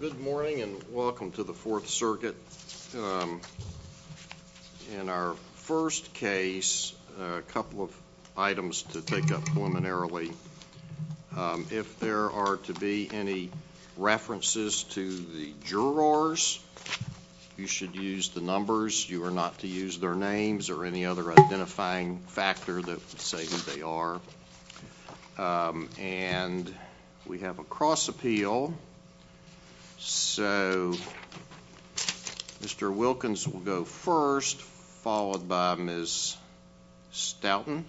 Good morning and welcome to the Fourth Circuit. In our first case, a couple of items to take up preliminarily. If there are to be any references to the jurors, you should use the numbers. You are not to use their names or any other So, Mr. Wilkins will go first, followed by Ms. Stoughton,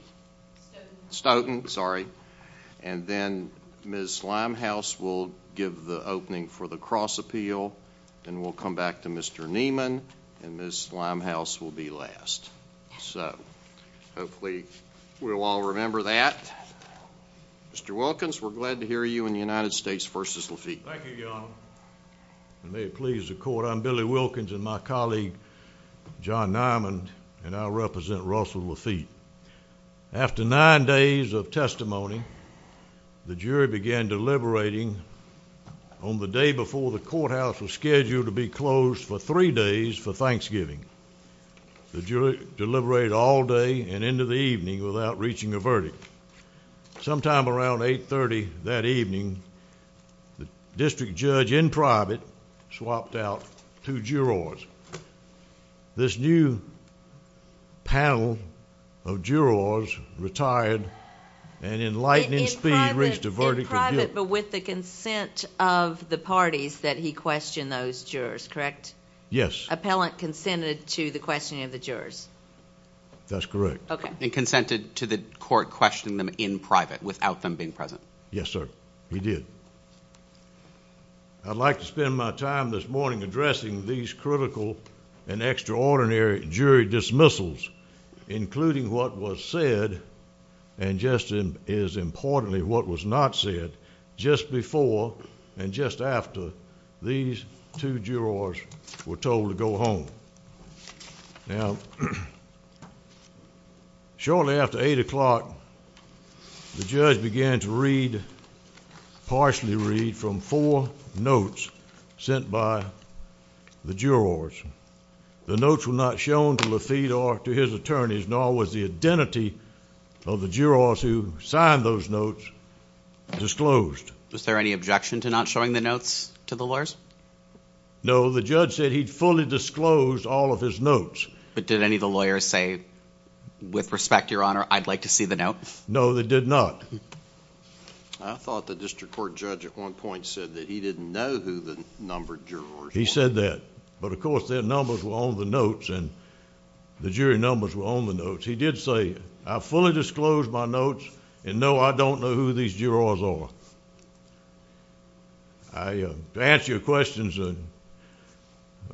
and then Ms. Limehouse will give the opening for the cross appeal. Then we'll come back to Mr. Neiman, and Ms. Limehouse will be last. So, hopefully we'll all remember that. Mr. Wilkins, we're glad to hear you in the United States v. Laffitte. Thank you, Your Honor. May it please the Court, I'm Billy Wilkins and my colleague John Neiman, and I represent Russell Laffitte. After nine days of testimony, the jury began deliberating on the day before the courthouse was scheduled to be closed for three days for Thanksgiving. The jury deliberated all day and into the evening without reaching a verdict. Sometime around 830 that evening, the district judge in private swapped out two jurors. This new panel of jurors retired and in lightning speed reached a verdict. In private, but with the consent of the parties that he questioned those jurors, correct? Yes. Appellant consented to the questioning of the present. Yes, sir, he did. I'd like to spend my time this morning addressing these critical and extraordinary jury dismissals, including what was said and just as importantly what was not said just before and just after these two jurors were told to go home. Now, shortly after 8 o'clock, the judge began to read, partially read, from four notes sent by the jurors. The notes were not shown to Laffitte or to his attorneys, nor was the identity of the jurors who signed those notes disclosed. Was there any objection to not showing the notes to the lawyers? No, the judge said he'd fully disclosed all of his notes. But did any of the lawyers say, with respect, Your Honor, I'd like to see the notes? No, they did not. I thought the district court judge at one point said that he didn't know who the numbered jurors were. He said that, but of course their numbers were on the notes and the jury numbers were on the notes. He did say, I fully disclosed my notes and no, I don't know who these jurors are. To answer your questions and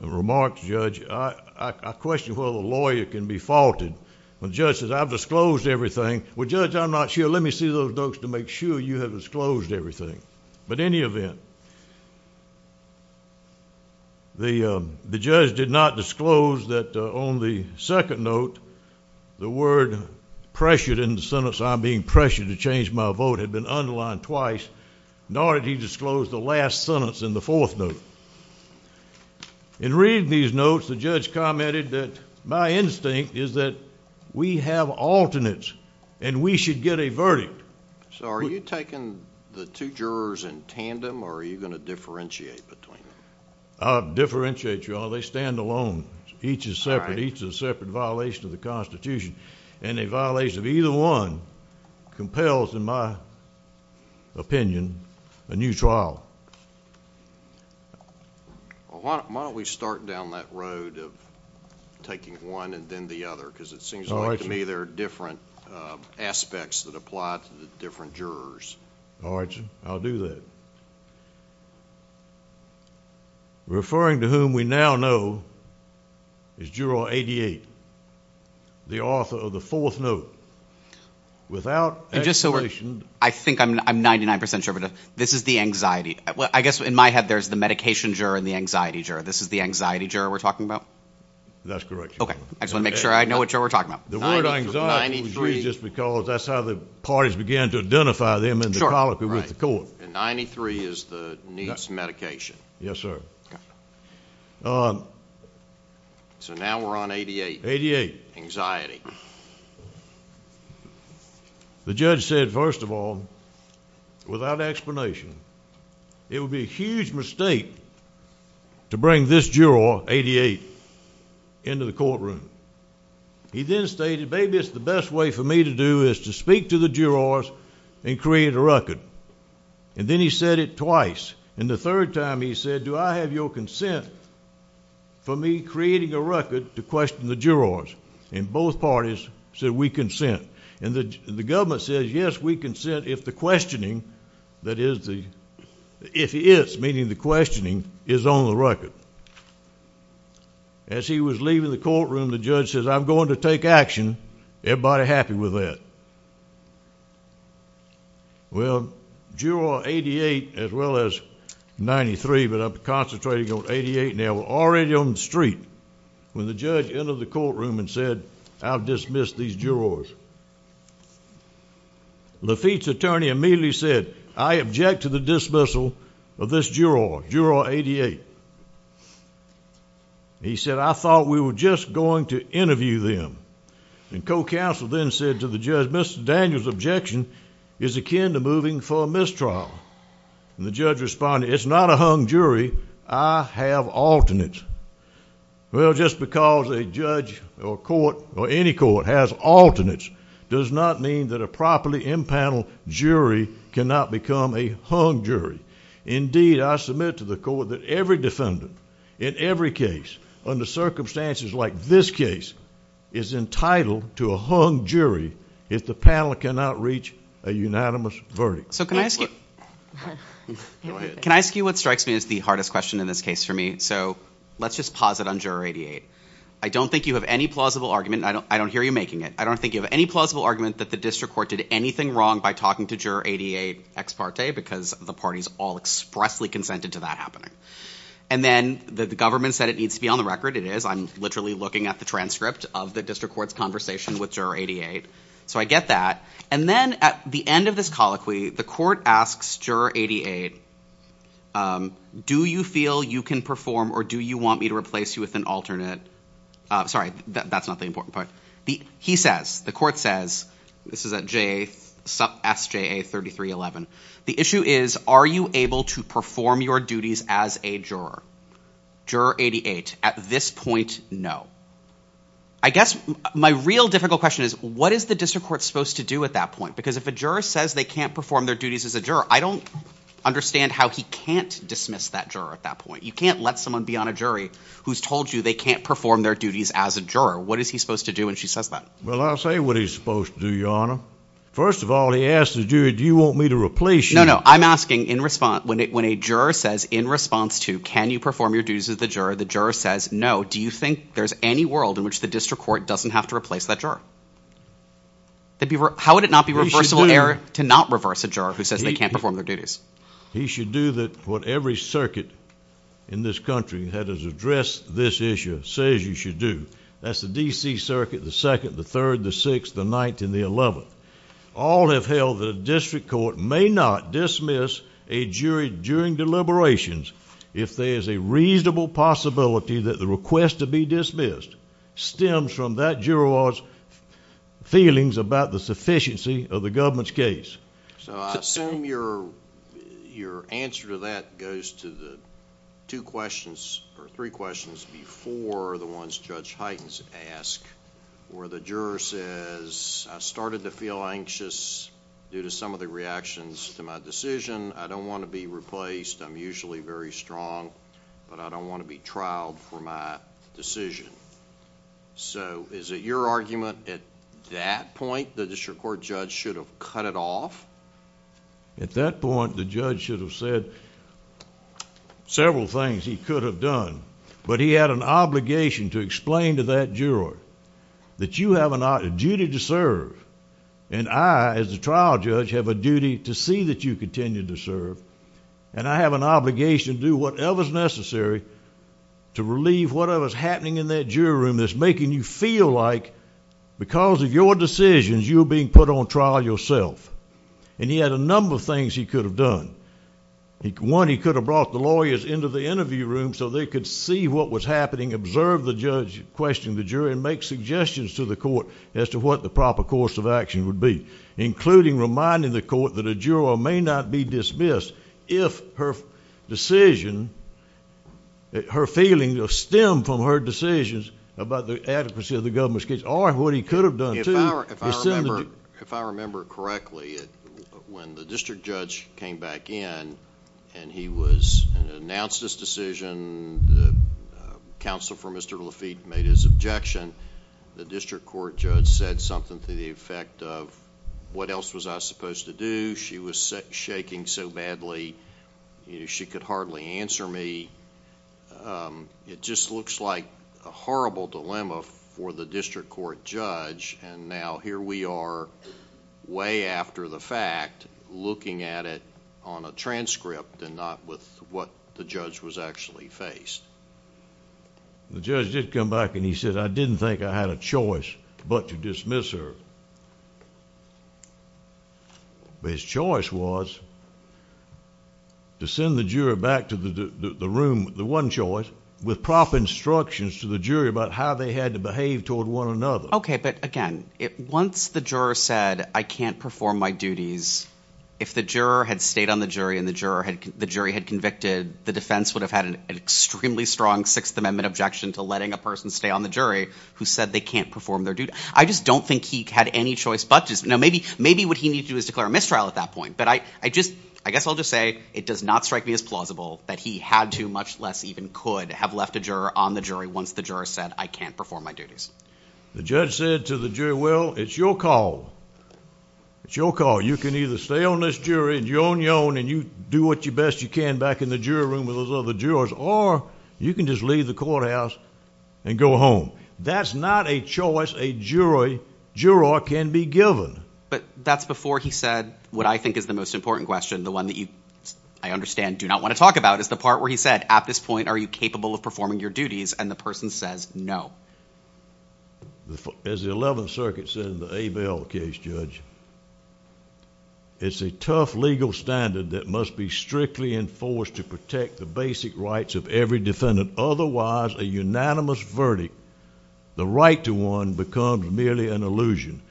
remarks, Judge, I question whether a lawyer can be faulted when the judge says, I've disclosed everything. Well, Judge, I'm not sure. Let me see those notes to make sure you have disclosed everything. But in any event, the judge did not disclose that on the second note, the word pressured in the sentence, I'm being pressured to change my vote, had been underlined twice, nor did he disclose the last sentence in the fourth note. In reading these notes, the judge commented that my instinct is that we have alternates and we should get a verdict. So are you taking the two jurors in tandem or are you going to differentiate between them? I'll differentiate, Your Honor. They stand alone. Each is separate. Each is a separate violation of the Constitution and a violation of either one compels, in my opinion, a new trial. Why don't we start down that road of taking one and then the other because it seems to me there are different aspects that apply to the different jurors. All right, I'll do that. Referring to whom we now know is Juror 88, the author of the fourth note. Without explanation, I think I'm 99% sure this is the anxiety. I guess in my head there's the medication juror and the anxiety juror. This is the anxiety juror we're talking about? That's correct, Your Honor. I just want to make sure I know what juror we're talking about. The word anxiety was used because that's how the parties began to identify them in the colloquy with the court. 93 is the needs medication. Yes, sir. So now we're on 88. 88. Anxiety. The judge said, first of all, without explanation, it would be a huge mistake to bring this juror, 88, into the courtroom. He then stated, baby, it's the best way for me to do is to speak to the jurors and create a record. And then he said it twice. And the third time he said, do I have your consent for me creating a record to question the jurors? And both parties said, we consent. And the government says, yes, we consent if the questioning, that is the, if he is, meaning the questioning, is on the record. As he was leaving the courtroom, the judge says, I'm going to take action. Everybody happy with that? Well, juror 88, as well as 93, but I'm concentrating on 88. Now we're already on the street. When the judge entered the courtroom and said, I'll dismiss these jurors. Lafitte's attorney immediately said, I object to the dismissal of this juror, juror 88. He said, I thought we were just going to interview them. And co-counsel then said to the judge, Mr. Daniels objection is akin to moving for a mistrial. And the judge responded, it's not a hung jury. I have alternates. Well, just because a judge or court or any court has alternates does not mean that a properly impaneled jury cannot become a hung jury. Indeed, I submit to the court that every defendant in every case, under circumstances like this case, is entitled to a hung jury if the panel cannot reach a unanimous verdict. So can I ask you, can I ask you what strikes me as the hardest question in this case for me? So let's just pause it on juror 88. I don't think you have any plausible argument. I don't, I don't hear you making it. I don't think you have any plausible argument that the district court did anything wrong by talking to juror 88 ex parte because the party's all expressly consented to that happening. And then the government said it needs to be on the record. It is. I'm literally looking at the transcript of the district court's conversation with juror 88. So I get that. And then at the end of this colloquy, the court asks juror 88, do you feel you can perform or do you want me to replace you with an alternate? Sorry, that's not the important part. He says, the court says, this is at SJA 3311. The issue is, are you able to perform your duties as a juror? Juror 88, at this point, no. I guess my real difficult question is, what is the district court supposed to do at that point? Because if a juror says they can't perform their duties as a juror, I don't understand how he can't dismiss that juror at that point. You can't let someone be on a jury who's told you they can't perform their duties as a juror. What is he supposed to do when she says that? Well, I'll say what he's supposed to do, Your Honor. First of all, he asked the jury, do you want me to replace you? No, no. I'm asking in response, when a juror says in response to, can you perform your duties as the juror, the juror says, no. Do you think there's any world in which the district court doesn't have to replace that juror? How would it not be reversible error to not reverse a juror who says they can't perform their duties? He should do what every circuit in this country that has addressed this issue says you should do. That's the D.C. Circuit, the 2nd, the 3rd, the 6th, the 9th, and the 11th. All have held that a district court may not dismiss a jury during deliberations if there is a reasonable possibility that the request to be dismissed stems from that juror's feelings about the sufficiency of the government's case. I assume your answer to that goes to the two questions or three questions before the ones Judge Hytens asked, where the juror says, I started to feel anxious due to some of the reactions to my decision. I don't want to be replaced. I'm usually very strong, but I don't want to be trialed for my decision. Is it your argument at that point that the district court judge should have cut it off? At that point the judge should have said several things he could have done, but he had an obligation to explain to that juror that you have a duty to serve, and I, as the trial judge, have a duty to see that you continue to serve, and I have an obligation to do whatever is necessary to relieve whatever is happening in that jury room that's making you feel like because of your decisions you're being put on trial yourself. He had a number of things he could have done. One, he could have brought the lawyers into the interview room so they could see what was happening, observe the judge questioning the jury, and make suggestions to the court as to what the proper course of action would be, including reminding the court that a juror may not be dismissed if her decision, her feelings stem from her decisions about the adequacy of the government's case or what he could have done, too... If I remember correctly, when the district judge came back in and he announced his decision, the counsel for Mr. Lafitte made his objection, the district court judge said something to the effect of, what else was I supposed to do? She was shaking so badly, she could hardly answer me. It just looks like a horrible dilemma for the district court judge, and now here we are, way after the fact, looking at it on a transcript and not with what the judge was actually faced. The judge did come back and he said, I didn't think I had a choice but to dismiss her. But his choice was to send the juror back to the room, the one choice, with proper instructions to the jury about how they had to behave toward one another. Okay, but again, once the juror said, I can't perform my duties, if the juror had stayed on the jury and the jury had convicted, the defense would have had an extremely strong Sixth Amendment objection to letting a person stay on the jury who said they can't perform their duties. I just don't think he had any choice but to dismiss her. Maybe what he needed to do was declare a mistrial at that point, but I guess I'll just say it does not strike me as plausible that he had to, much less even could, have left a juror on the jury once the juror said, I can't perform my duties. The judge said to the jury, well, it's your call. It's your call. You can either stay on this jury and you do what best you can back in the jury room with those other jurors or you can just leave the courthouse and go home. That's not a choice a juror can be given. But that's before he said what I think is the most important question, the one that you, I understand, do not want to talk about, is the part where he said, at this point, are you capable of performing your duties? And the person says, no. As the Eleventh Circuit said in the Abel case, Judge, it's a tough legal standard that must be strictly enforced to protect the basic rights of every defendant. Otherwise, a unanimous verdict, the right to one, becomes merely an illusion.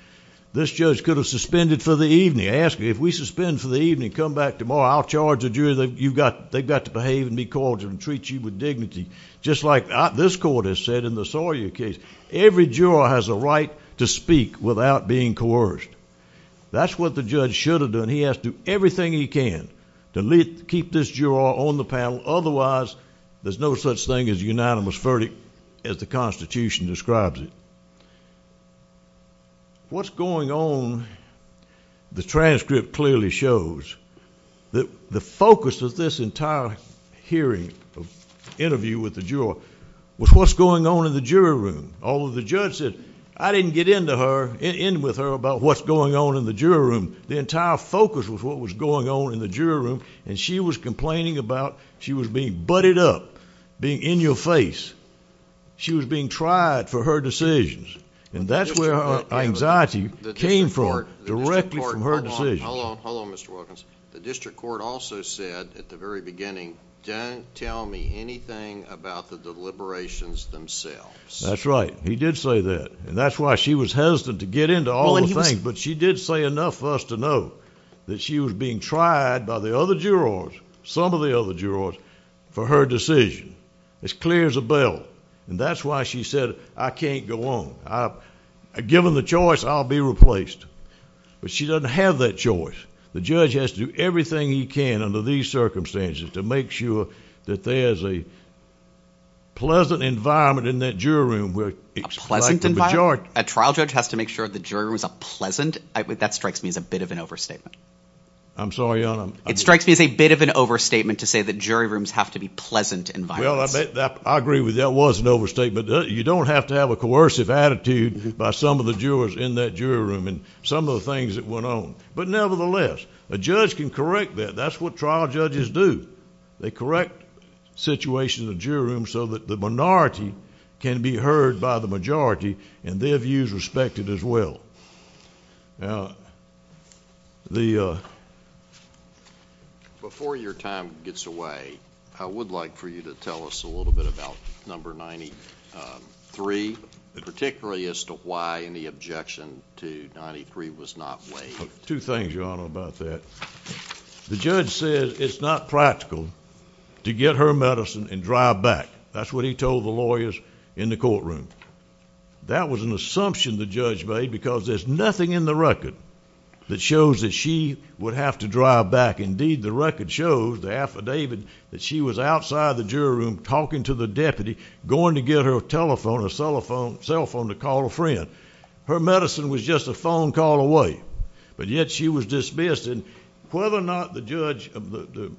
This judge could have suspended for the evening, asked me, if we suspend for the evening and come back tomorrow, I'll charge the jury that they've got to behave and be cordial and treat you with dignity, just like this court has said in the Sawyer case. Every juror has a right to speak without being coerced. That's what the judge should have done. He has to do everything he can to keep this juror on the panel. Otherwise, there's no such thing as a unanimous verdict as the Constitution describes it. What's going on, the transcript clearly shows, that the focus of this entire hearing, interview with the juror, was what's going on in the jury room. Although the judge said, I didn't get in with her about what's going on in the jury room. The entire focus was what was going on in the jury room, and she was complaining about, she was being butted up, being in-your-face. She was being tried for her decisions, and that's where her anxiety came from, directly from her decision. Hold on, hold on, Mr. Wilkins. The district court also said, at the very beginning, don't tell me anything about the deliberations themselves. That's right. He did say that, and that's why she was hesitant to get into all the things, but she did say enough for us to know that she was being tried by the other jurors, some of the other jurors, for her decision. It's clear as a bell, and that's why she said, I can't go on. Given the choice, I'll be replaced. But she doesn't have that choice. The judge has to do everything he can, under these circumstances, to make sure that there's a pleasant environment in that jury room. A pleasant environment? A trial judge has to make sure the jury room is pleasant? That strikes me as a bit of an overstatement. I'm sorry, Your Honor? It strikes me as a bit of an overstatement to say that jury rooms have to be pleasant environments. Well, I agree with you. That was an overstatement. You don't have to have a coercive attitude by some of the jurors in that jury room, and some of the things that went on. But nevertheless, a judge can correct that. That's what trial judges do. They correct situations in the jury room so that the minority can be heard by the majority, and their views respected as well. Before your time gets away, I would like for you to tell us a little bit about number 93, particularly as to why any objection to 93 was not waived. Two things, Your Honor, about that. The judge said it's not practical to get her medicine and drive back. That's what he told the lawyers in the courtroom. That was an assumption the judge made, because there's nothing in the record that shows that she would have to drive back. Indeed, the record shows, the affidavit, that she was outside the jury room talking to the deputy, going to get her telephone or cell phone to call a friend. Her medicine was just a phone call away, but yet she was dismissed. Whether or not the judge... the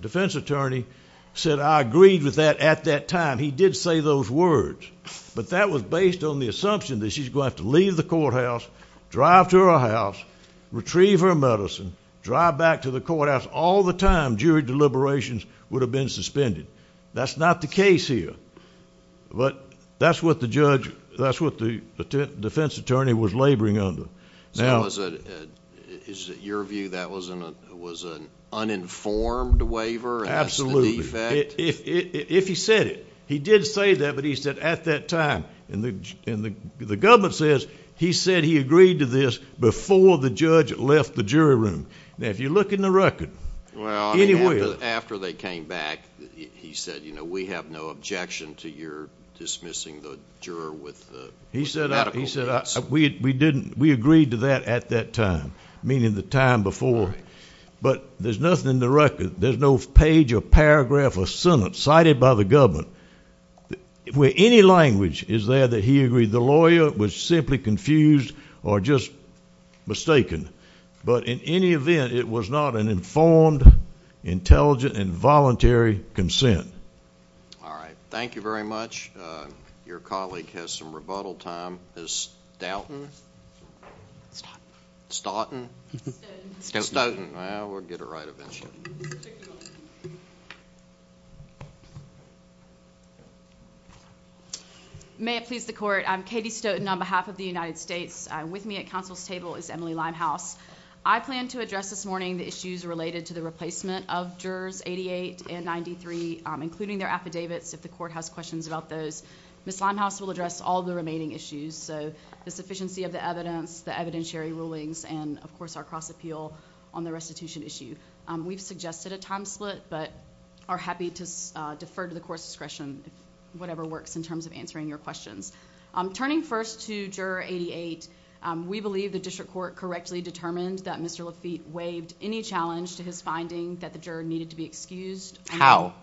defense attorney said, I agreed with that at that time, he did say those words, but that was based on the assumption that she's going to have to leave the courthouse, drive to her house, retrieve her medicine, drive back to the courthouse. All the time, jury deliberations would have been suspended. That's not the case here, but that's what the defense attorney was laboring under. So, is it your view that was an uninformed waiver as to the effect? If he said it. He did say that, but he said at that time. The government says he said he agreed to this before the judge left the jury room. Now, if you look in the record... Well, I mean, after they came back, he said, you know, we have no objection to your dismissing the juror with medical needs. He said, we agreed to that at that time, meaning the time before. But there's nothing in the Senate, cited by the government, where any language is there that he agreed the lawyer was simply confused or just mistaken. But in any event, it was not an informed, intelligent and voluntary consent. All right. Thank you very much. Your colleague has some rebuttal time. Stoughton? Stoughton. Stoughton. Stoughton. Stoughton. Well, we'll get it right eventually. May it please the Court. I'm Katie Stoughton on behalf of the United States. With me at counsel's table is Emily Limehouse. I plan to address this morning the issues related to the replacement of jurors 88 and 93, including their affidavits, if the Court has questions about those. Ms. Limehouse will address all the remaining issues. So, the sufficiency of the evidence, the evidentiary rulings, and, of course, our cross-appeal on the restitution issue. We've suggested a time split, but are happy to defer to the Court's discretion, whatever works in terms of answering your questions. Turning first to Juror 88, we believe the District Court correctly determined that Mr. Lafitte waived any challenge to his finding that the juror needed to be excused. How?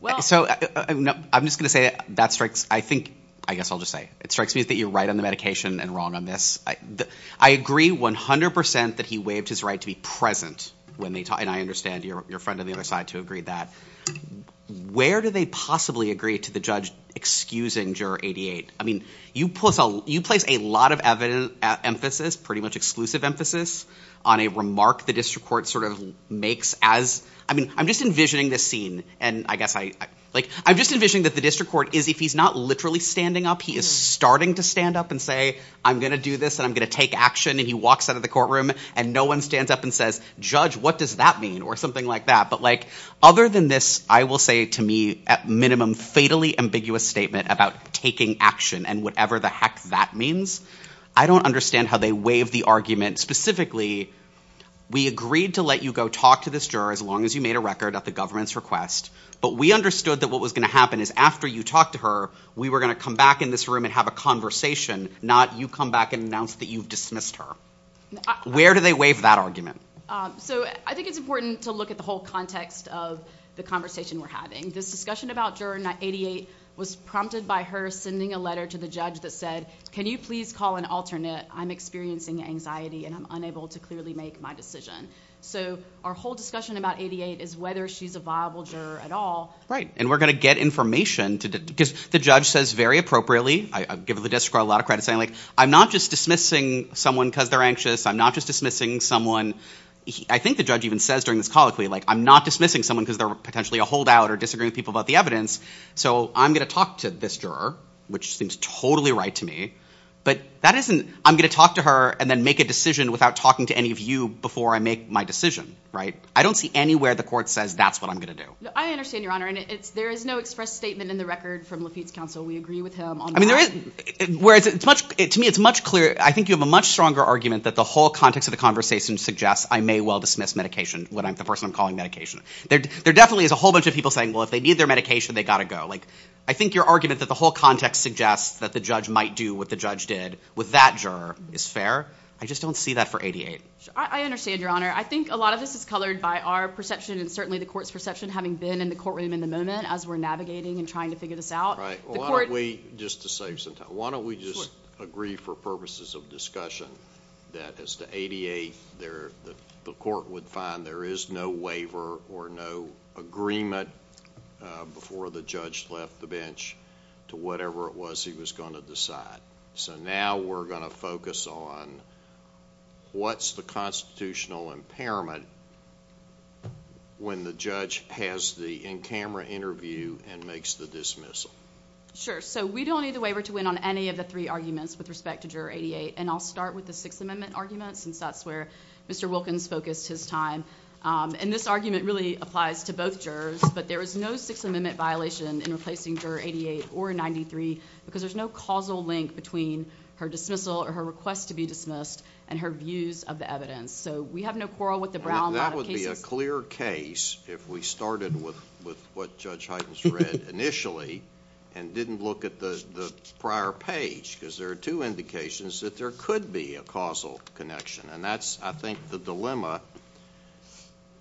Well... So, I'm just going to say that strikes, I think, I guess I'll just say, it strikes me that you're right on the medication and wrong on this. I agree 100% that he waived his right to be present when they talked, and I understand your friend on the other side too agreed that. Where do they possibly agree to the judge excusing Juror 88? I mean, you place a lot of emphasis, pretty much exclusive emphasis, on a remark the District Court sort of makes as, I mean, I'm just envisioning this scene, and I guess I, like, I'm just envisioning that the District Court is, if he's not literally standing up, he is starting to stand up and say, I'm going to do this, and I'm going to take action, and he walks out of the courtroom, and no one stands up and says, Judge, what does that mean? Or something like that. But like, other than this, I will say to me, at minimum, fatally ambiguous statement about taking action and whatever the heck that means, I don't understand how they waived the argument. Specifically, we agreed to let you go talk to this juror as long as you made a record at the government's request, but we understood that what was going to happen is after you talked to her, we were going to come back in this room and have a conversation, not you come back and announce that you've dismissed her. Where do they waive that argument? So I think it's important to look at the whole context of the conversation we're having. This discussion about Juror 88 was prompted by her sending a letter to the judge that said, can you please call an alternate? I'm experiencing anxiety, and I'm unable to clearly make my decision. So our whole discussion about 88 is whether she's a viable juror at all. Right, and we're going to get information, because the judge says very appropriately, I give the district court a lot of credit saying, I'm not just dismissing someone because they're anxious, I'm not just dismissing someone, I think the judge even says during this colloquy, I'm not dismissing someone because they're potentially a holdout or disagreeing with people about the evidence, so I'm going to talk to this juror, which seems totally right to me, but that isn't, I'm going to talk to her and then make a decision without talking to any of you before I make my decision, right? I don't see anywhere the court says that's what I'm going to do. I understand, Your Honor, and there is no express statement in the record from Lafitte's counsel, we agree with him on that. I mean, there is, whereas to me it's much clearer, I think you have a much stronger argument that the whole context of the conversation suggests I may well dismiss medication, the person I'm calling medication. There definitely is a whole bunch of people saying, well, if they need their medication, they've got to go. I think your argument that the whole context suggests that the judge might do what the judge did with that juror is fair. I just don't see that for 88. I understand, Your Honor. I think a lot of this is colored by our perception and certainly the court's perception having been in the courtroom in the moment as we're navigating and trying to figure this out. Right. The court Why don't we, just to save some time, why don't we just Sure. agree for purposes of discussion that as to 88, the court would find there is no waiver or no agreement before the judge left the bench to whatever it was he was going to decide. Now we're going to focus on what's the constitutional impairment when the judge has the in-camera interview and makes the dismissal. Sure. We don't need the waiver to win on any of the three arguments with respect to Juror 88. I'll start with the Sixth Amendment argument since that's where Mr. Wilkins focused his time. This argument really applies to both jurors, but there is no Sixth Amendment violation in replacing Juror 88 or 93 because there's no causal link between her dismissal or her request to be dismissed and her views of the evidence. So we have no quarrel with the Brown Model cases. That would be a clear case if we started with what Judge Hytens read initially and didn't look at the prior page because there are two indications that there could be a causal connection. And that's, I think, the dilemma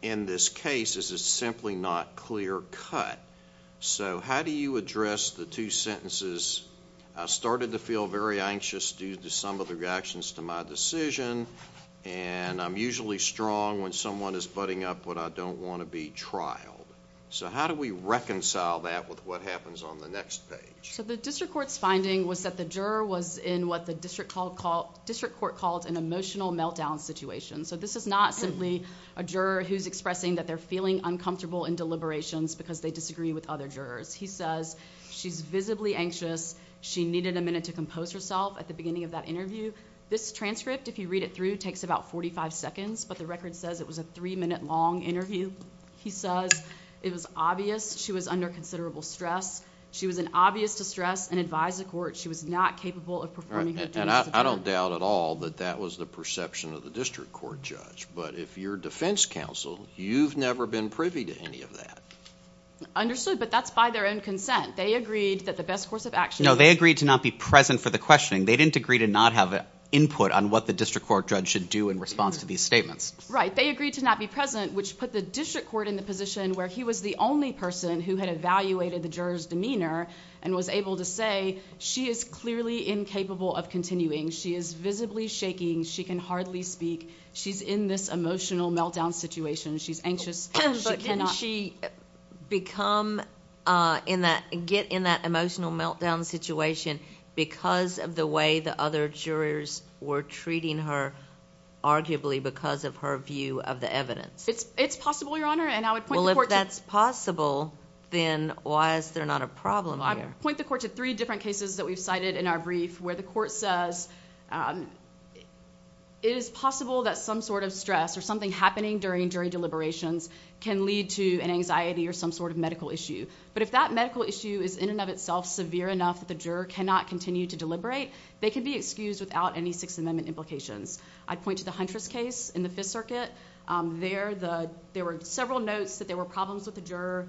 in this case is it's simply not clear cut. So how do you address the two sentences, I started to feel very anxious due to some of the reactions to my decision, and I'm usually strong when someone is butting up what I don't want to be trialed. So how do we reconcile that with what happens on the next page? So the District Court's finding was that the juror was in what the District Court called an emotional meltdown situation. So this is not simply a juror who's expressing that they're feeling uncomfortable in deliberations because they disagree with other jurors. He says she's visibly anxious. She needed a minute to compose herself at the beginning of that interview. This transcript, if you read it through, takes about 45 seconds, but the record says it was a three-minute long interview. He says it was obvious she was under considerable stress. She was in obvious distress and advised the court she was not capable of performing her duties as a juror. And I don't doubt at all that that was the perception of the District Court judge, but if you're defense counsel, you've never been privy to any of that. Understood, but that's by their own consent. They agreed that the best course of action was... No, they agreed to not be present for the questioning. They didn't agree to not have input on what the District Court judge should do in response to these statements. Right. They agreed to not be present, which put the District Court in the position where he was the only person who had evaluated the juror's demeanor and was able to say she is clearly incapable of continuing. She is visibly shaking. She can hardly speak. She's in this emotional meltdown situation. She's anxious. She cannot... But can she get in that emotional meltdown situation because of the way the other jurors were treating her, arguably because of her view of the evidence? It's possible, Your Honor, and I would point the court to... Well, if that's possible, then why is there not a problem here? I would point the court to three different cases that we've cited in our brief where the court says it is possible that some sort of stress or something happening during jury deliberations can lead to an anxiety or some sort of medical issue. But if that medical issue is, in and of itself, severe enough that the juror cannot continue to deliberate, they can be excused without any Sixth Amendment implications. I'd point to the Huntress case in the Fifth Circuit. There were several notes that there were problems with the juror,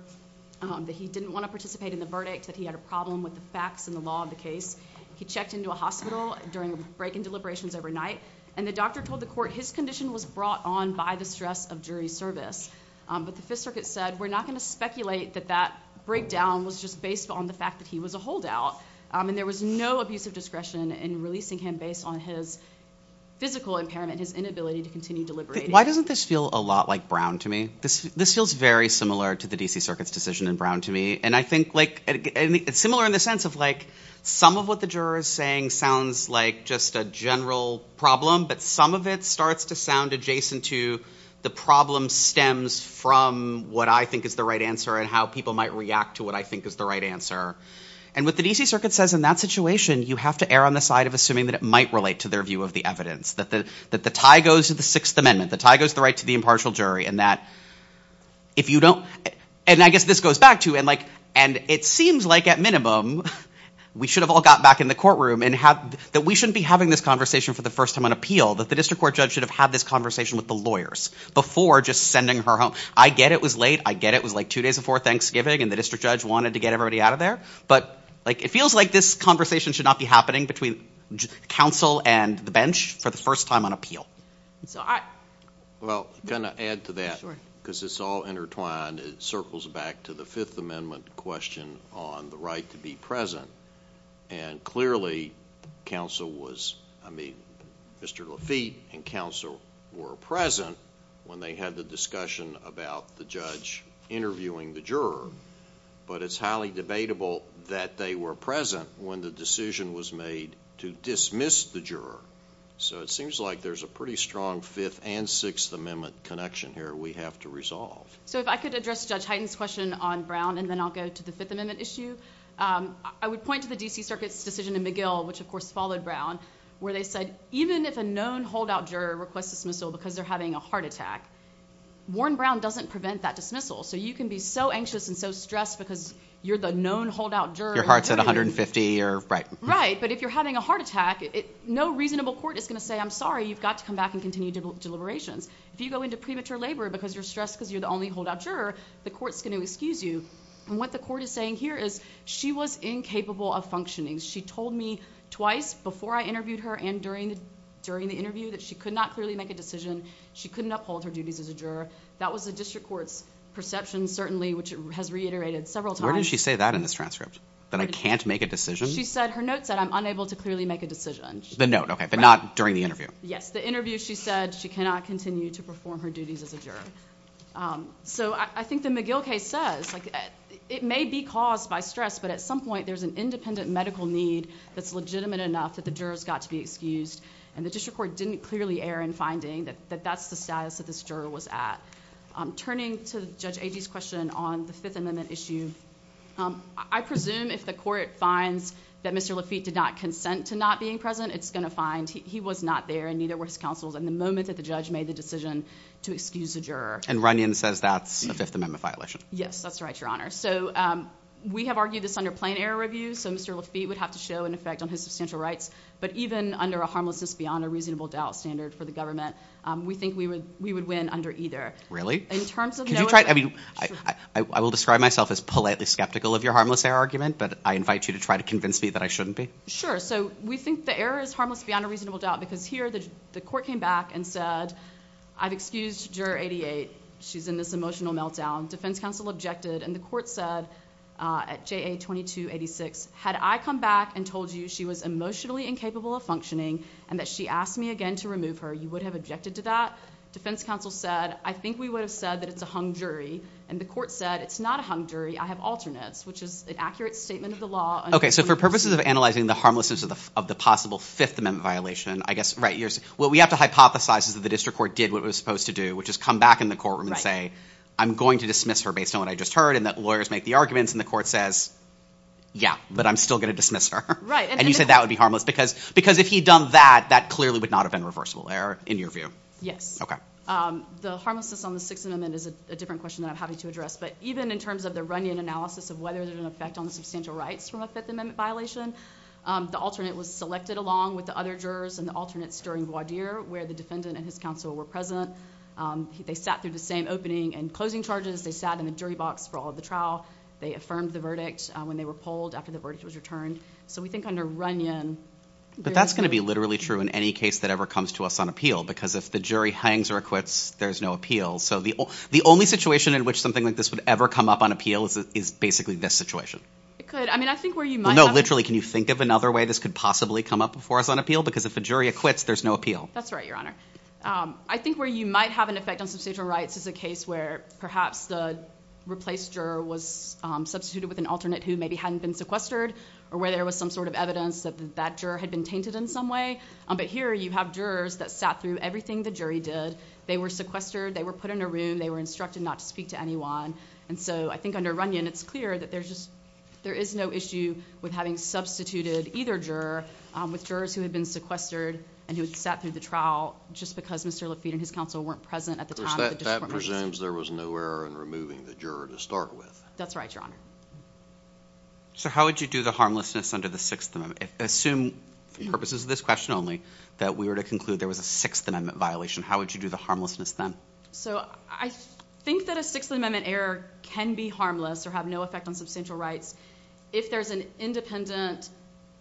that he didn't want to participate in the verdict, that he had a problem with the facts and the law of the case. He checked into a hospital during a break in deliberations overnight, and the doctor told the court his condition was brought on by the stress of jury service. But the Fifth Circuit said, we're not going to speculate that that breakdown was just based on the fact that he was a holdout, and there was no abuse of discretion in releasing him based on his physical impairment, his inability to continue deliberating. Why doesn't this feel a lot like Brown to me? This feels very similar to the D.C. Circuit's decision in Brown to me. And I think it's similar in the sense of some of what the juror is saying sounds like just a general problem, but some of it starts to sound adjacent to the problem stems from what I think is the right answer and how people might react to what I think is the right answer. And what the D.C. Circuit says in that situation, you have to err on the side of assuming that it might relate to their view of the evidence, that the tie goes to the Sixth Amendment, the tie goes to the right to the impartial jury, and that if you don't, and I guess this goes back to, and it seems like at minimum we should have all got back in the courtroom and that we shouldn't be having this conversation for the first time on appeal, that the district court judge should have had this conversation with the lawyers before just sending her home. I get it was late, I get it was like two days before Thanksgiving and the district judge wanted to get everybody out of there, but like it feels like this conversation should not be happening between counsel and the bench for the first time on appeal. Well, can I add to that, because it's all intertwined, it circles back to the Fifth Amendment question on the right to be present, and clearly counsel was, I mean, Mr. Lafitte and counsel were present when they had the discussion about the judge interviewing the juror, but it's highly debatable that they were present when the decision was made to dismiss the juror, so it seems like there's a pretty strong Fifth and Sixth Amendment connection here we have to resolve. So if I could address Judge Hyten's question on Brown, and then I'll go to the Fifth Amendment issue. I would point to the D.C. Circuit's decision in McGill, which of course followed Brown, where they said even if a known holdout juror requests dismissal because they're having a heart attack, Warren Brown doesn't prevent that dismissal, so you can be so anxious and so stressed because you're the known holdout juror. Your heart's at 150 or, right. But if you're having a heart attack, no reasonable court is going to say, I'm sorry, you've got to come back and continue deliberations. If you go into premature labor because you're stressed because you're the only holdout juror, the court's going to excuse you, and what the court is saying here is she was incapable of functioning. She told me twice before I interviewed her and during the interview that she could not clearly make a decision, she couldn't uphold her duties as a juror. That was the district court's perception, certainly, which it has reiterated several times. Where did she say that in this transcript? That I can't make a decision? She said, her note said, I'm unable to clearly make a decision. The note, okay. But not during the interview. Yes. The interview she said she cannot continue to perform her duties as a juror. So I think the McGill case says, it may be caused by stress, but at some point there's an independent medical need that's legitimate enough that the juror's got to be excused, and the district court didn't clearly err in finding that that's the status that this juror was at. Turning to Judge Agee's question on the Fifth Amendment issue, I presume if the court finds that Mr. Lafitte did not consent to not being present, it's going to find he was not there and neither were his counsels in the moment that the judge made the decision to excuse the juror. And Runyon says that's a Fifth Amendment violation. Yes, that's right, Your Honor. So we have argued this under plain error review, so Mr. Lafitte would have to show an effect on his substantial rights, but even under a harmlessness beyond a reasonable doubt standard for the government, we think we would win under either. Really? In terms of knowing- Could you try- Sure. I will describe myself as politely skeptical of your harmless error argument, but I invite you to try to convince me that I shouldn't be. Sure. So we think the error is harmless beyond a reasonable doubt because here the court came back and said, I've excused Juror 88, she's in this emotional meltdown. Defense counsel objected, and the court said at JA 2286, had I come back and told you she was emotionally incapable of functioning and that she asked me again to remove her, you would have objected to that? Defense counsel said, I think we would have said that it's a hung jury. And the court said, it's not a hung jury, I have alternates, which is an accurate statement of the law- Okay. So for purposes of analyzing the harmlessness of the possible Fifth Amendment violation, I guess, right, what we have to hypothesize is that the district court did what it was supposed to do, which is come back in the courtroom and say, I'm going to dismiss her based on what I just heard, and that lawyers make the arguments, and the court says, yeah, but I'm still going to dismiss her. Right. And you said that would be harmless because if he'd done that, that clearly would not have been reversible error in your view. Yes. Okay. The harmlessness on the Sixth Amendment is a different question that I'm happy to address, but even in terms of the Runyon analysis of whether there's an effect on the substantial rights from a Fifth Amendment violation, the alternate was selected along with the other jurors and the alternates during voir dire, where the defendant and his counsel were present, they sat through the same opening and closing charges, they sat in the jury box for all of the trial, they affirmed the verdict when they were polled after the verdict was returned. So we think under Runyon- But that's going to be literally true in any case that ever comes to us on appeal, because if the jury hangs or acquits, there's no appeal. So the only situation in which something like this would ever come up on appeal is basically this situation. It could. I mean, I think where you might have- No, literally, can you think of another way this could possibly come up before us on appeal? Because if a jury acquits, there's no appeal. That's right, Your Honor. I think where you might have an effect on substantial rights is a case where perhaps the replaced juror was substituted with an alternate who maybe hadn't been sequestered or where there was some sort of evidence that that juror had been tainted in some way. But here you have jurors that sat through everything the jury did. They were sequestered. They were put in a room. They were instructed not to speak to anyone. And so I think under Runyon, it's clear that there is no issue with having substituted either juror with jurors who had been sequestered and who had sat through the trial just because Mr. Lafitte and his counsel weren't present at the time of the discrimination. Of course, that presumes there was no error in removing the juror to start with. That's right, Your Honor. So how would you do the harmlessness under the Sixth Amendment? Assume, for purposes of this question only, that we were to conclude there was a Sixth Amendment violation. How would you do the harmlessness then? So I think that a Sixth Amendment error can be harmless or have no effect on substantial rights if there's an independent,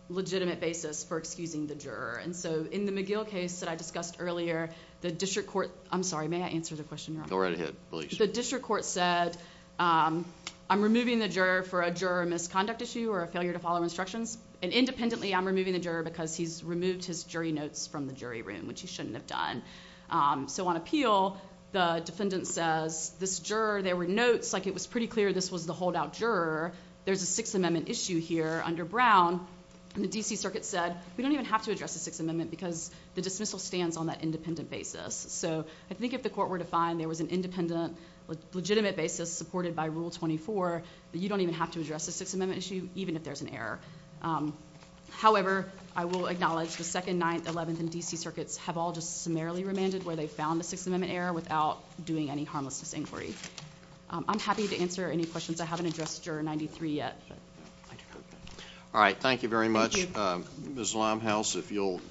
legitimate basis for excusing the juror. And so in the McGill case that I discussed earlier, the district court, I'm sorry, may I answer the question, Your Honor? Go right ahead, please. The district court said, I'm removing the juror for a juror misconduct issue or a failure to follow instructions. And independently, I'm removing the juror because he's removed his jury notes from the jury room, which he shouldn't have done. So on appeal, the defendant says, this juror, there were notes, like it was pretty clear this was the holdout juror. There's a Sixth Amendment issue here under Brown, and the D.C. Circuit said, we don't even have to address the Sixth Amendment because the dismissal stands on that independent basis. So I think if the court were to find there was an independent, legitimate basis supported by Rule 24, that you don't even have to address the Sixth Amendment issue, even if there's an error. However, I will acknowledge the Second, Ninth, Eleventh, and D.C. Circuits have all just summarily remanded where they found the Sixth Amendment error without doing any harmlessness inquiry. I'm happy to answer any questions I haven't addressed, Juror 93, yet. All right. Thank you very much. Thank you. Ms. Limehouse, if you'll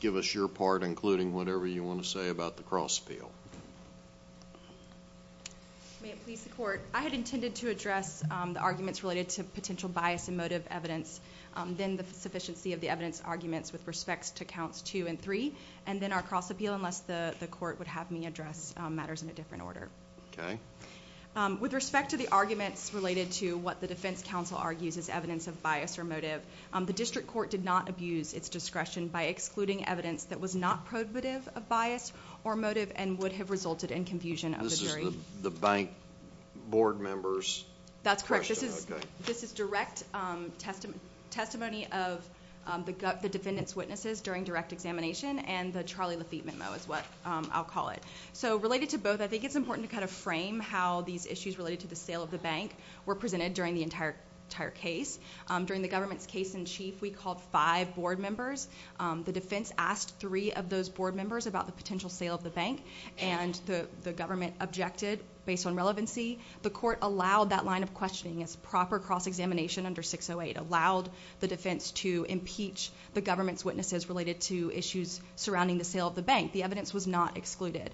give us your part, including whatever you want to say about the cross-appeal. May it please the court, I had intended to address the arguments related to potential bias and motive evidence, then the sufficiency of the evidence arguments with respects to Counts 2 and 3, and then our cross-appeal, unless the court would have me address matters in a different order. With respect to the arguments related to what the defense counsel argues is evidence of bias or motive, the District Court did not abuse its discretion by excluding evidence that was not prohibitive of bias or motive and would have resulted in confusion of the This is the bank board member's question. That's correct. This is direct testimony of the defendant's witnesses during direct examination, and the Charlie Lafitte memo is what I'll call it. Related to both, I think it's important to frame how these issues related to the sale of the bank were presented during the entire case. During the government's case in chief, we called five board members. The defense asked three of those board members about the potential sale of the bank, and the government objected based on relevancy. The court allowed that line of questioning as proper cross-examination under 608, allowed the defense to impeach the government's witnesses related to issues surrounding the sale of the bank. The evidence was not excluded.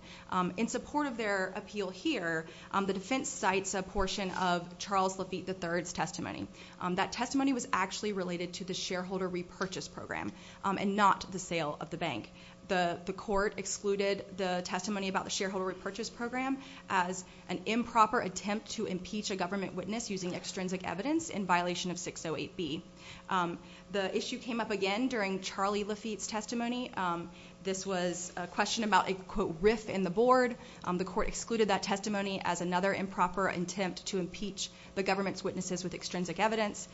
In support of their appeal here, the defense cites a portion of Charles Lafitte III's testimony. That testimony was actually related to the shareholder repurchase program and not the sale of the bank. The court excluded the testimony about the shareholder repurchase program as an improper attempt to impeach a government witness using extrinsic evidence in violation of 608B. The issue came up again during Charlie Lafitte's testimony. This was a question about a, quote, riff in the board. The court excluded that testimony as another improper attempt to impeach the government's witnesses with extrinsic evidence.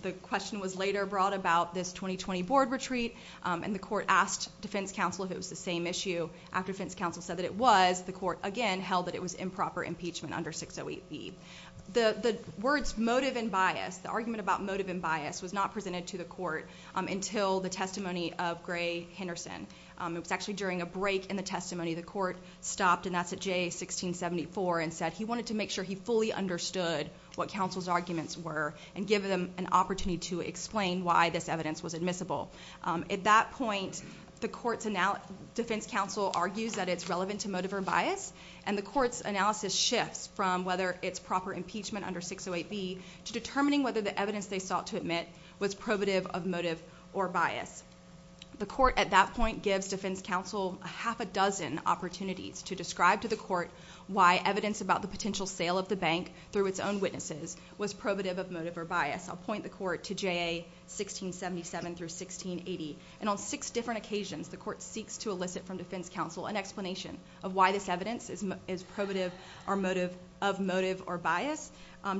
The question was later brought about this 2020 board retreat, and the court asked defense counsel if it was the same issue. After defense counsel said that it was, the court again held that it was improper impeachment under 608B. The words motive and bias, the argument about motive and bias, was not presented to the court until the testimony of Gray Henderson. It was actually during a break in the testimony. The court stopped, and that's at J1674, and said he wanted to make sure he fully understood what counsel's arguments were and give them an opportunity to explain why this evidence was admissible. At that point, the defense counsel argues that it's relevant to motive or bias, and the court's analysis shifts from whether it's proper impeachment under 608B to determining whether the evidence they sought to admit was probative of motive or bias. The court at that point gives defense counsel a half a dozen opportunities to describe to the court why evidence about the potential sale of the bank through its own witnesses was probative of motive or bias. I'll point the court to JA 1677 through 1680, and on six different occasions, the court seeks to elicit from defense counsel an explanation of why this evidence is probative of motive or bias.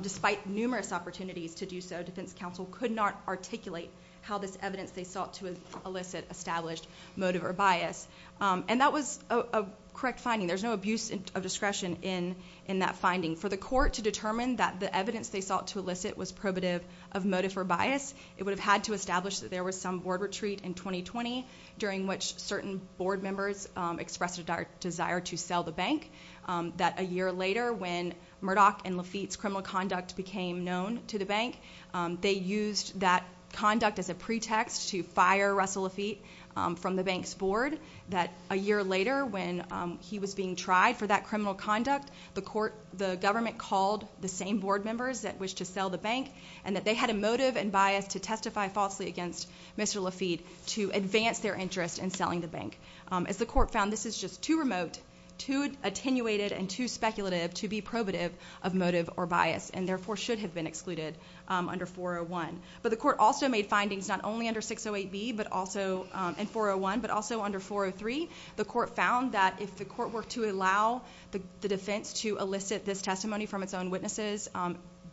Despite numerous opportunities to do so, defense counsel could not articulate how this evidence they sought to elicit established motive or bias, and that was a correct finding. There's no abuse of discretion in that finding. For the court to determine that the evidence they sought to elicit was probative of motive or bias, it would have had to establish that there was some board retreat in 2020 during which certain board members expressed a desire to sell the bank, that a year later when Murdoch and Lafitte's criminal conduct became known to the bank, they used that conduct as a pretext to fire Russell Lafitte from the bank's board, that a year later when he was being tried for that criminal conduct, the government called the same board members that wished to sell the bank, and that they had a motive and bias to testify falsely against Mr. Lafitte to advance their interest in selling the bank. As the court found, this is just too remote, too attenuated, and too speculative to be probative of motive or bias, and therefore should have been excluded under 401. The court also made findings not only under 608B and 401, but also under 403. The court found that if the court were to allow the defense to elicit this testimony from its own witnesses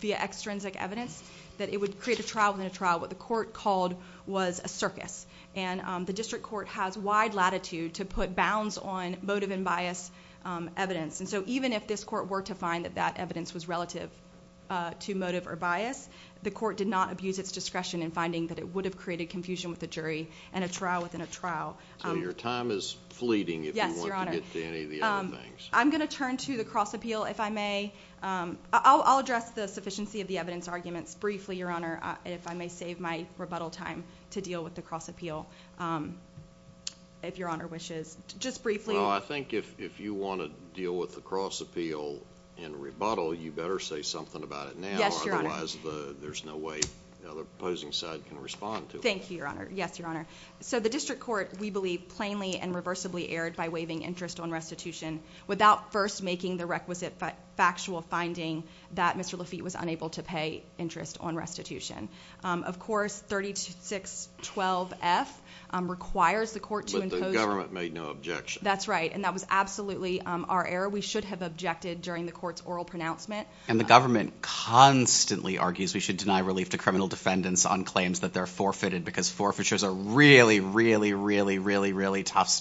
via extrinsic evidence, that it would create a trial within a trial, what the court called was a circus. The district court has wide latitude to put bounds on motive and bias evidence. Even if this court were to find that that evidence was relative to motive or bias, the court would abuse its discretion in finding that it would have created confusion with the jury and a trial within a trial. Your time is fleeting if you want to get to any of the other things. I'm going to turn to the cross appeal, if I may. I'll address the sufficiency of the evidence arguments briefly, Your Honor, if I may save my rebuttal time to deal with the cross appeal, if Your Honor wishes. Just briefly. I think if you want to deal with the cross appeal in rebuttal, you better say something about it now. Yes, Your Honor. Otherwise, there's no way the opposing side can respond to it. Thank you, Your Honor. Yes, Your Honor. The district court, we believe, plainly and reversibly erred by waiving interest on restitution without first making the requisite factual finding that Mr. Lafitte was unable to pay interest on restitution. Of course, 3612F requires the court to impose- But the government made no objection. That's right. That was absolutely our error. We should have objected during the court's oral pronouncement. And the government constantly argues we should deny relief to criminal defendants on claims that they're forfeited because forfeitures are really, really, really, really, really tough.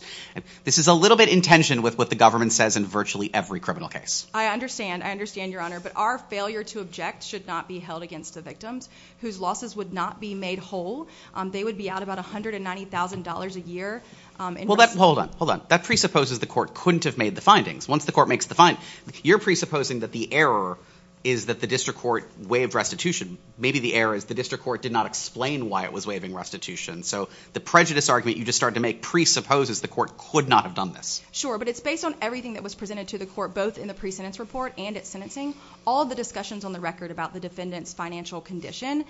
This is a little bit in tension with what the government says in virtually every criminal case. I understand. I understand, Your Honor. But our failure to object should not be held against the victims whose losses would not be made whole. They would be out about $190,000 a year. Well, hold on. Hold on. That presupposes the court couldn't have made the findings. Once the court makes the findings, you're presupposing that the error is that the district court waived restitution. Maybe the error is the district court did not explain why it was waiving restitution. So the prejudice argument you just started to make presupposes the court could not have done this. Sure. But it's based on everything that was presented to the court, both in the pre-sentence report and at sentencing. All the discussions on the record about the defendant's financial condition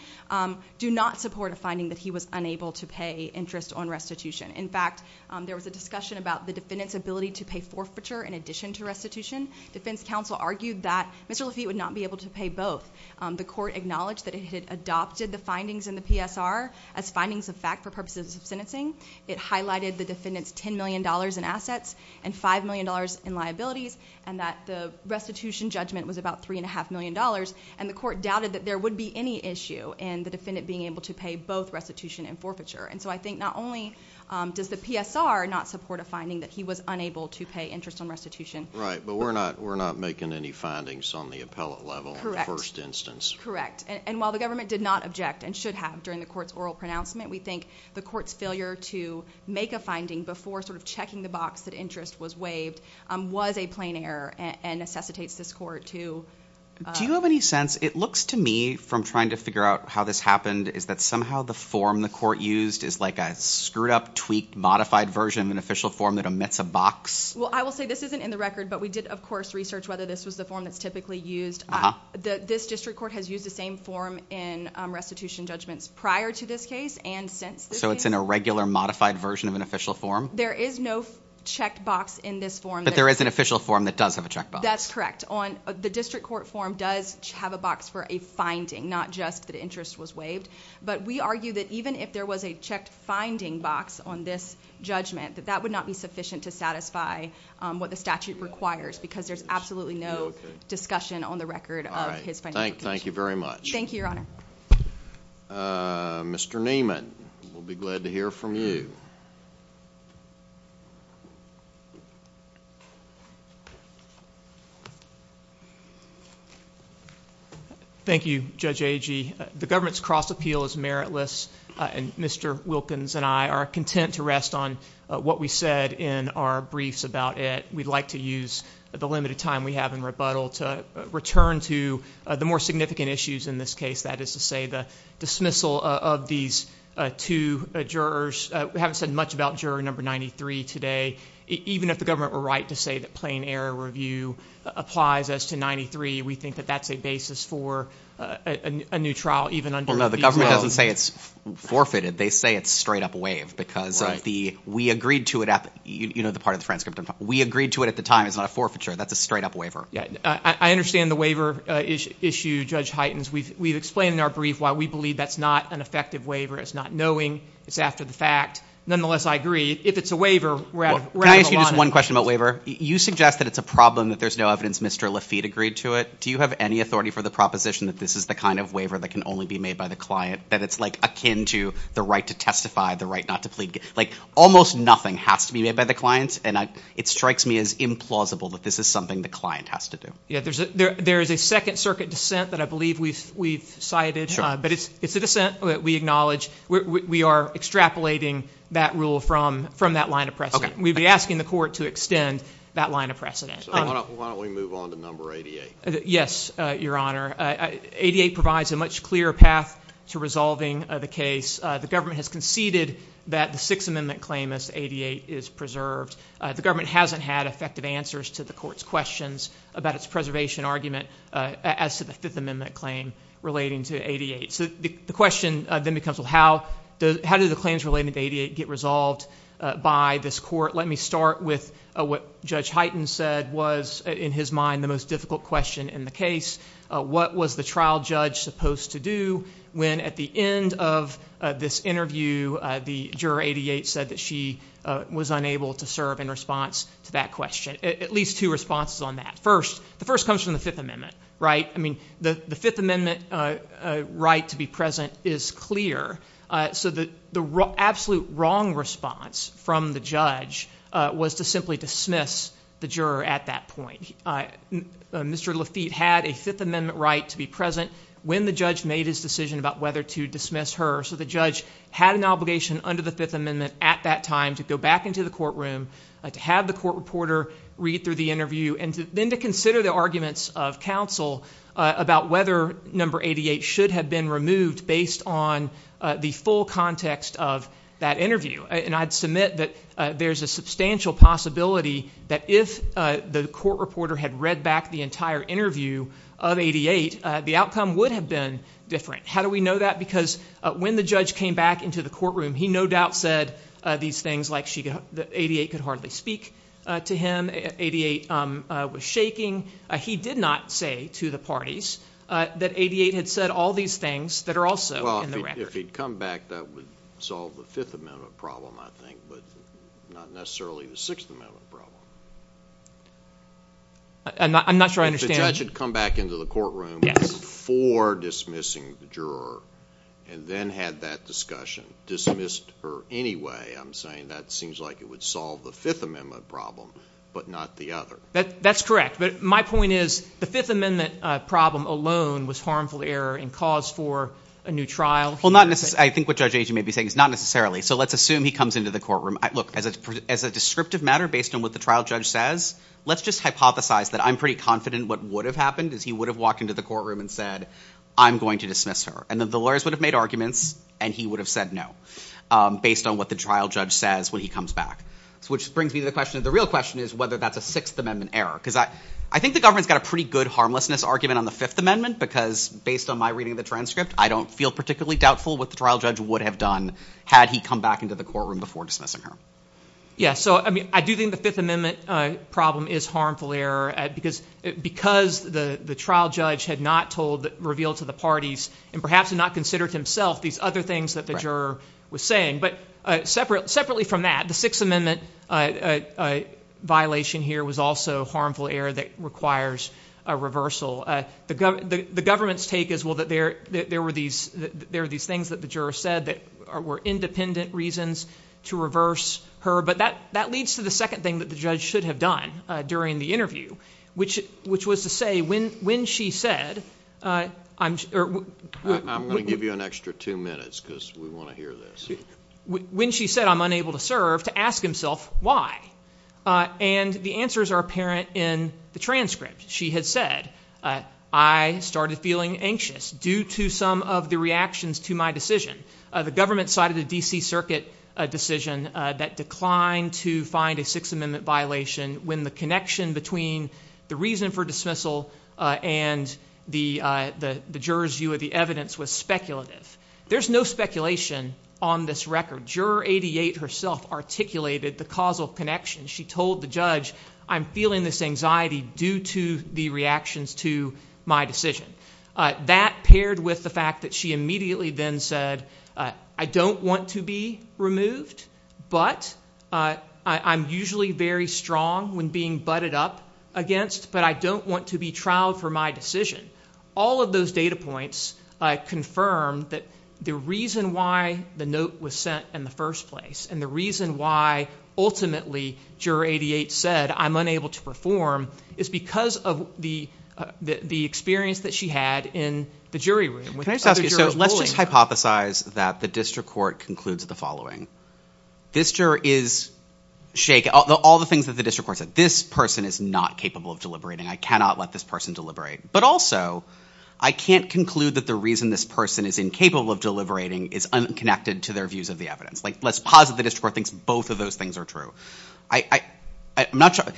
do not support a finding that he was unable to pay interest on restitution. In fact, there was a discussion about the defendant's ability to pay forfeiture in addition to restitution. Defense counsel argued that Mr. Lafitte would not be able to pay both. The court acknowledged that it had adopted the findings in the PSR as findings of fact for purposes of sentencing. It highlighted the defendant's $10 million in assets and $5 million in liabilities and that the restitution judgment was about $3.5 million. And the court doubted that there would be any issue in the defendant being able to pay both restitution and forfeiture. And so I think not only does the PSR not support a finding that he was unable to pay interest on restitution. But we're not making any findings on the appellate level in the first instance. Correct. And while the government did not object and should have during the court's oral pronouncement, we think the court's failure to make a finding before sort of checking the box that interest was waived was a plain error and necessitates this court to... Do you have any sense, it looks to me from trying to figure out how this happened, is that somehow the form the court used is like a screwed up, tweaked, modified version of an official form that omits a box? Well, I will say this isn't in the record, but we did of course research whether this was the form that's typically used. This district court has used the same form in restitution judgments prior to this case and since this case. So it's an irregular, modified version of an official form? There is no check box in this form. But there is an official form that does have a check box. That's correct. The district court form does have a box for a finding, not just that interest was waived. But we argue that even if there was a checked finding box on this judgment, that that would not be sufficient to satisfy what the statute requires because there's absolutely no discussion on the record of his financial position. Thank you very much. Thank you, Your Honor. Mr. Neiman, we'll be glad to hear from you. Thank you, Judge Agee. The government's cross appeal is meritless and Mr. Wilkins and I are content to rest on what we said in our briefs about it. We'd like to use the limited time we have in rebuttal to return to the more significant issues in this case. That is to say the dismissal of these two jurors. We haven't said much about juror number 93 today. Even if the government were right to say that plain error review applies as to 93, we think that that's a basis for a new trial, even under a veto. No, the government doesn't say it's forfeited. They say it's straight up waived because we agreed to it at the time. We agreed to it at the time. It's not a forfeiture. That's a straight up waiver. Yeah. I understand the waiver issue, Judge Heitens. We've explained in our brief why we believe that's not an effective waiver. It's not knowing. It's after the fact. Nonetheless, I agree. If it's a waiver, we're out of the law now. Can I ask you just one question about waiver? You suggest that it's a problem that there's no evidence Mr. Lafitte agreed to it. Do you have any authority for the proposition that this is the kind of waiver that can only be made by the client, that it's akin to the right to testify, the right not to plead? Almost nothing has to be made by the client. It strikes me as implausible that this is something the client has to do. There is a second circuit dissent that I believe we've cited, but it's a dissent that we acknowledge. We are extrapolating that rule from that line of precedent. We'd be asking the court to extend that line of precedent. Why don't we move on to number 88? Yes, Your Honor. 88 provides a much clearer path to resolving the case. The government has conceded that the Sixth Amendment claim as 88 is preserved. The government hasn't had effective answers to the court's questions about its preservation argument as to the Fifth Amendment claim relating to 88. The question then becomes, how do the claims relating to 88 get resolved by this court? Let me start with what Judge Hyten said was, in his mind, the most difficult question in the case. What was the trial judge supposed to do when at the end of this interview, the juror 88 said that she was unable to serve in response to that question? At least two responses on that. First, the first comes from the Fifth Amendment. The Fifth Amendment right to be present is clear, so the absolute wrong response from the judge was to simply dismiss the juror at that point. Mr. Lafitte had a Fifth Amendment right to be present when the judge made his decision about whether to dismiss her. The judge had an obligation under the Fifth Amendment at that time to go back into the courtroom, to have the court reporter read through the interview, and then to consider the arguments of counsel about whether number 88 should have been removed based on the full context of that interview. I'd submit that there's a substantial possibility that if the court reporter had read back the entire interview of 88, the outcome would have been different. How do we know that? Because when the judge came back into the courtroom, he no doubt said these things like 88 could hardly speak to him, 88 was shaking. He did not say to the parties that 88 had said all these things that are also in the record. If he'd come back, that would solve the Fifth Amendment problem, I think, but not necessarily the Sixth Amendment problem. I'm not sure I understand. If the judge had come back into the courtroom before dismissing the juror, and then had that discussion, dismissed her anyway, I'm saying that seems like it would solve the Fifth Amendment problem, but not the other. That's correct. But my point is the Fifth Amendment problem alone was harmful to error and cause for a new trial. Well, not necessarily. I think what Judge Agee may be saying is not necessarily, so let's assume he comes into the courtroom. Look, as a descriptive matter based on what the trial judge says, let's just hypothesize that I'm pretty confident what would have happened is he would have walked into the courtroom and said, I'm going to dismiss her, and then the lawyers would have made arguments and he would have said no, based on what the trial judge says when he comes back. Which brings me to the question, the real question is whether that's a Sixth Amendment error, because I think the government's got a pretty good harmlessness argument on the Fifth Amendment, because based on my reading of the transcript, I don't feel particularly doubtful what the trial judge would have done had he come back into the courtroom before dismissing her. Yeah, so I do think the Fifth Amendment problem is harmful error, because the trial judge had not revealed to the parties, and perhaps had not considered himself, these other things that the juror was saying. But separately from that, the Sixth Amendment violation here was also harmful error that requires a reversal. The government's take is, well, that there were these things that the juror said that were independent reasons to reverse her, but that leads to the second thing that the judge should have done during the interview, which was to say, when she said, I'm going to give you an extra two minutes, because we want to hear this. When she said, I'm unable to serve, to ask himself why. And the answers are apparent in the transcript. She had said, I started feeling anxious due to some of the reactions to my decision. The government cited a D.C. Circuit decision that declined to find a Sixth Amendment violation when the connection between the reason for dismissal and the juror's view of the evidence was speculative. There's no speculation on this record. Juror 88 herself articulated the causal connection. She told the judge, I'm feeling this anxiety due to the reactions to my decision. That paired with the fact that she immediately then said, I don't want to be removed, but I'm usually very strong when being butted up against, but I don't want to be trialed for my decision. All of those data points confirm that the reason why the note was sent in the first place and the reason why, ultimately, juror 88 said, I'm unable to perform, is because of the experience that she had in the jury room. Let's just hypothesize that the district court concludes the following. This juror is shaken. All the things that the district court said. This person is not capable of deliberating. I cannot let this person deliberate. But also, I can't conclude that the reason this person is incapable of deliberating is unconnected to their views of the evidence. Let's posit the district court thinks both of those things are true.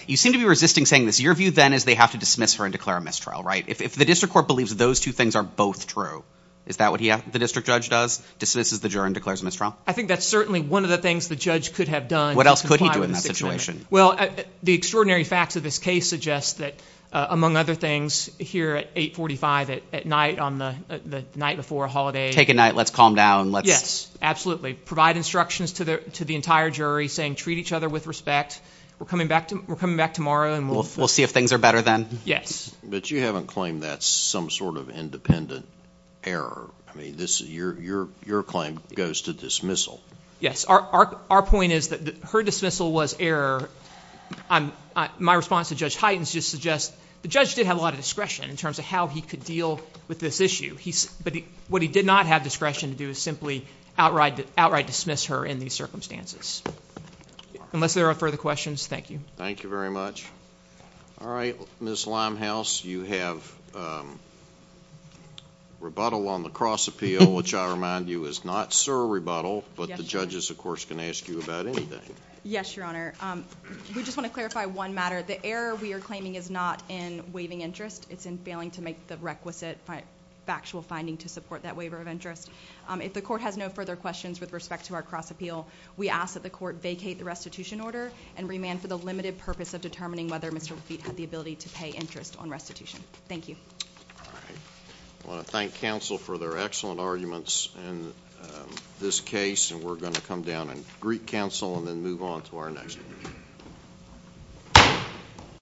You seem to be resisting saying this. Your view, then, is they have to dismiss her and declare a mistrial, right? If the district court believes those two things are both true, is that what the district judge does? Dismisses the juror and declares a mistrial? I think that's certainly one of the things the judge could have done. What else could he do in that situation? The extraordinary facts of this case suggest that, among other things, here at 845 at night on the night before a holiday. Take a night. Let's calm down. Yes, absolutely. We provide instructions to the entire jury saying treat each other with respect. We're coming back tomorrow and we'll see if things are better then. Yes. But you haven't claimed that's some sort of independent error. Your claim goes to dismissal. Yes. Our point is that her dismissal was error. My response to Judge Hytens just suggests the judge did have a lot of discretion in terms of how he could deal with this issue. But what he did not have discretion to do is simply outright dismiss her in these circumstances. Unless there are further questions, thank you. Thank you very much. All right. Ms. Limehouse, you have rebuttal on the cross appeal, which I remind you is not surrebuttal, but the judges, of course, can ask you about anything. Yes, Your Honor. We just want to clarify one matter. The error we are claiming is not in waiving interest. It's in failing to make the requisite factual finding to support that waiver of interest. If the court has no further questions with respect to our cross appeal, we ask that the court vacate the restitution order and remand for the limited purpose of determining whether Mr. Lafitte had the ability to pay interest on restitution. Thank you. All right. I want to thank counsel for their excellent arguments in this case, and we're going to come down and greet counsel and then move on to our next.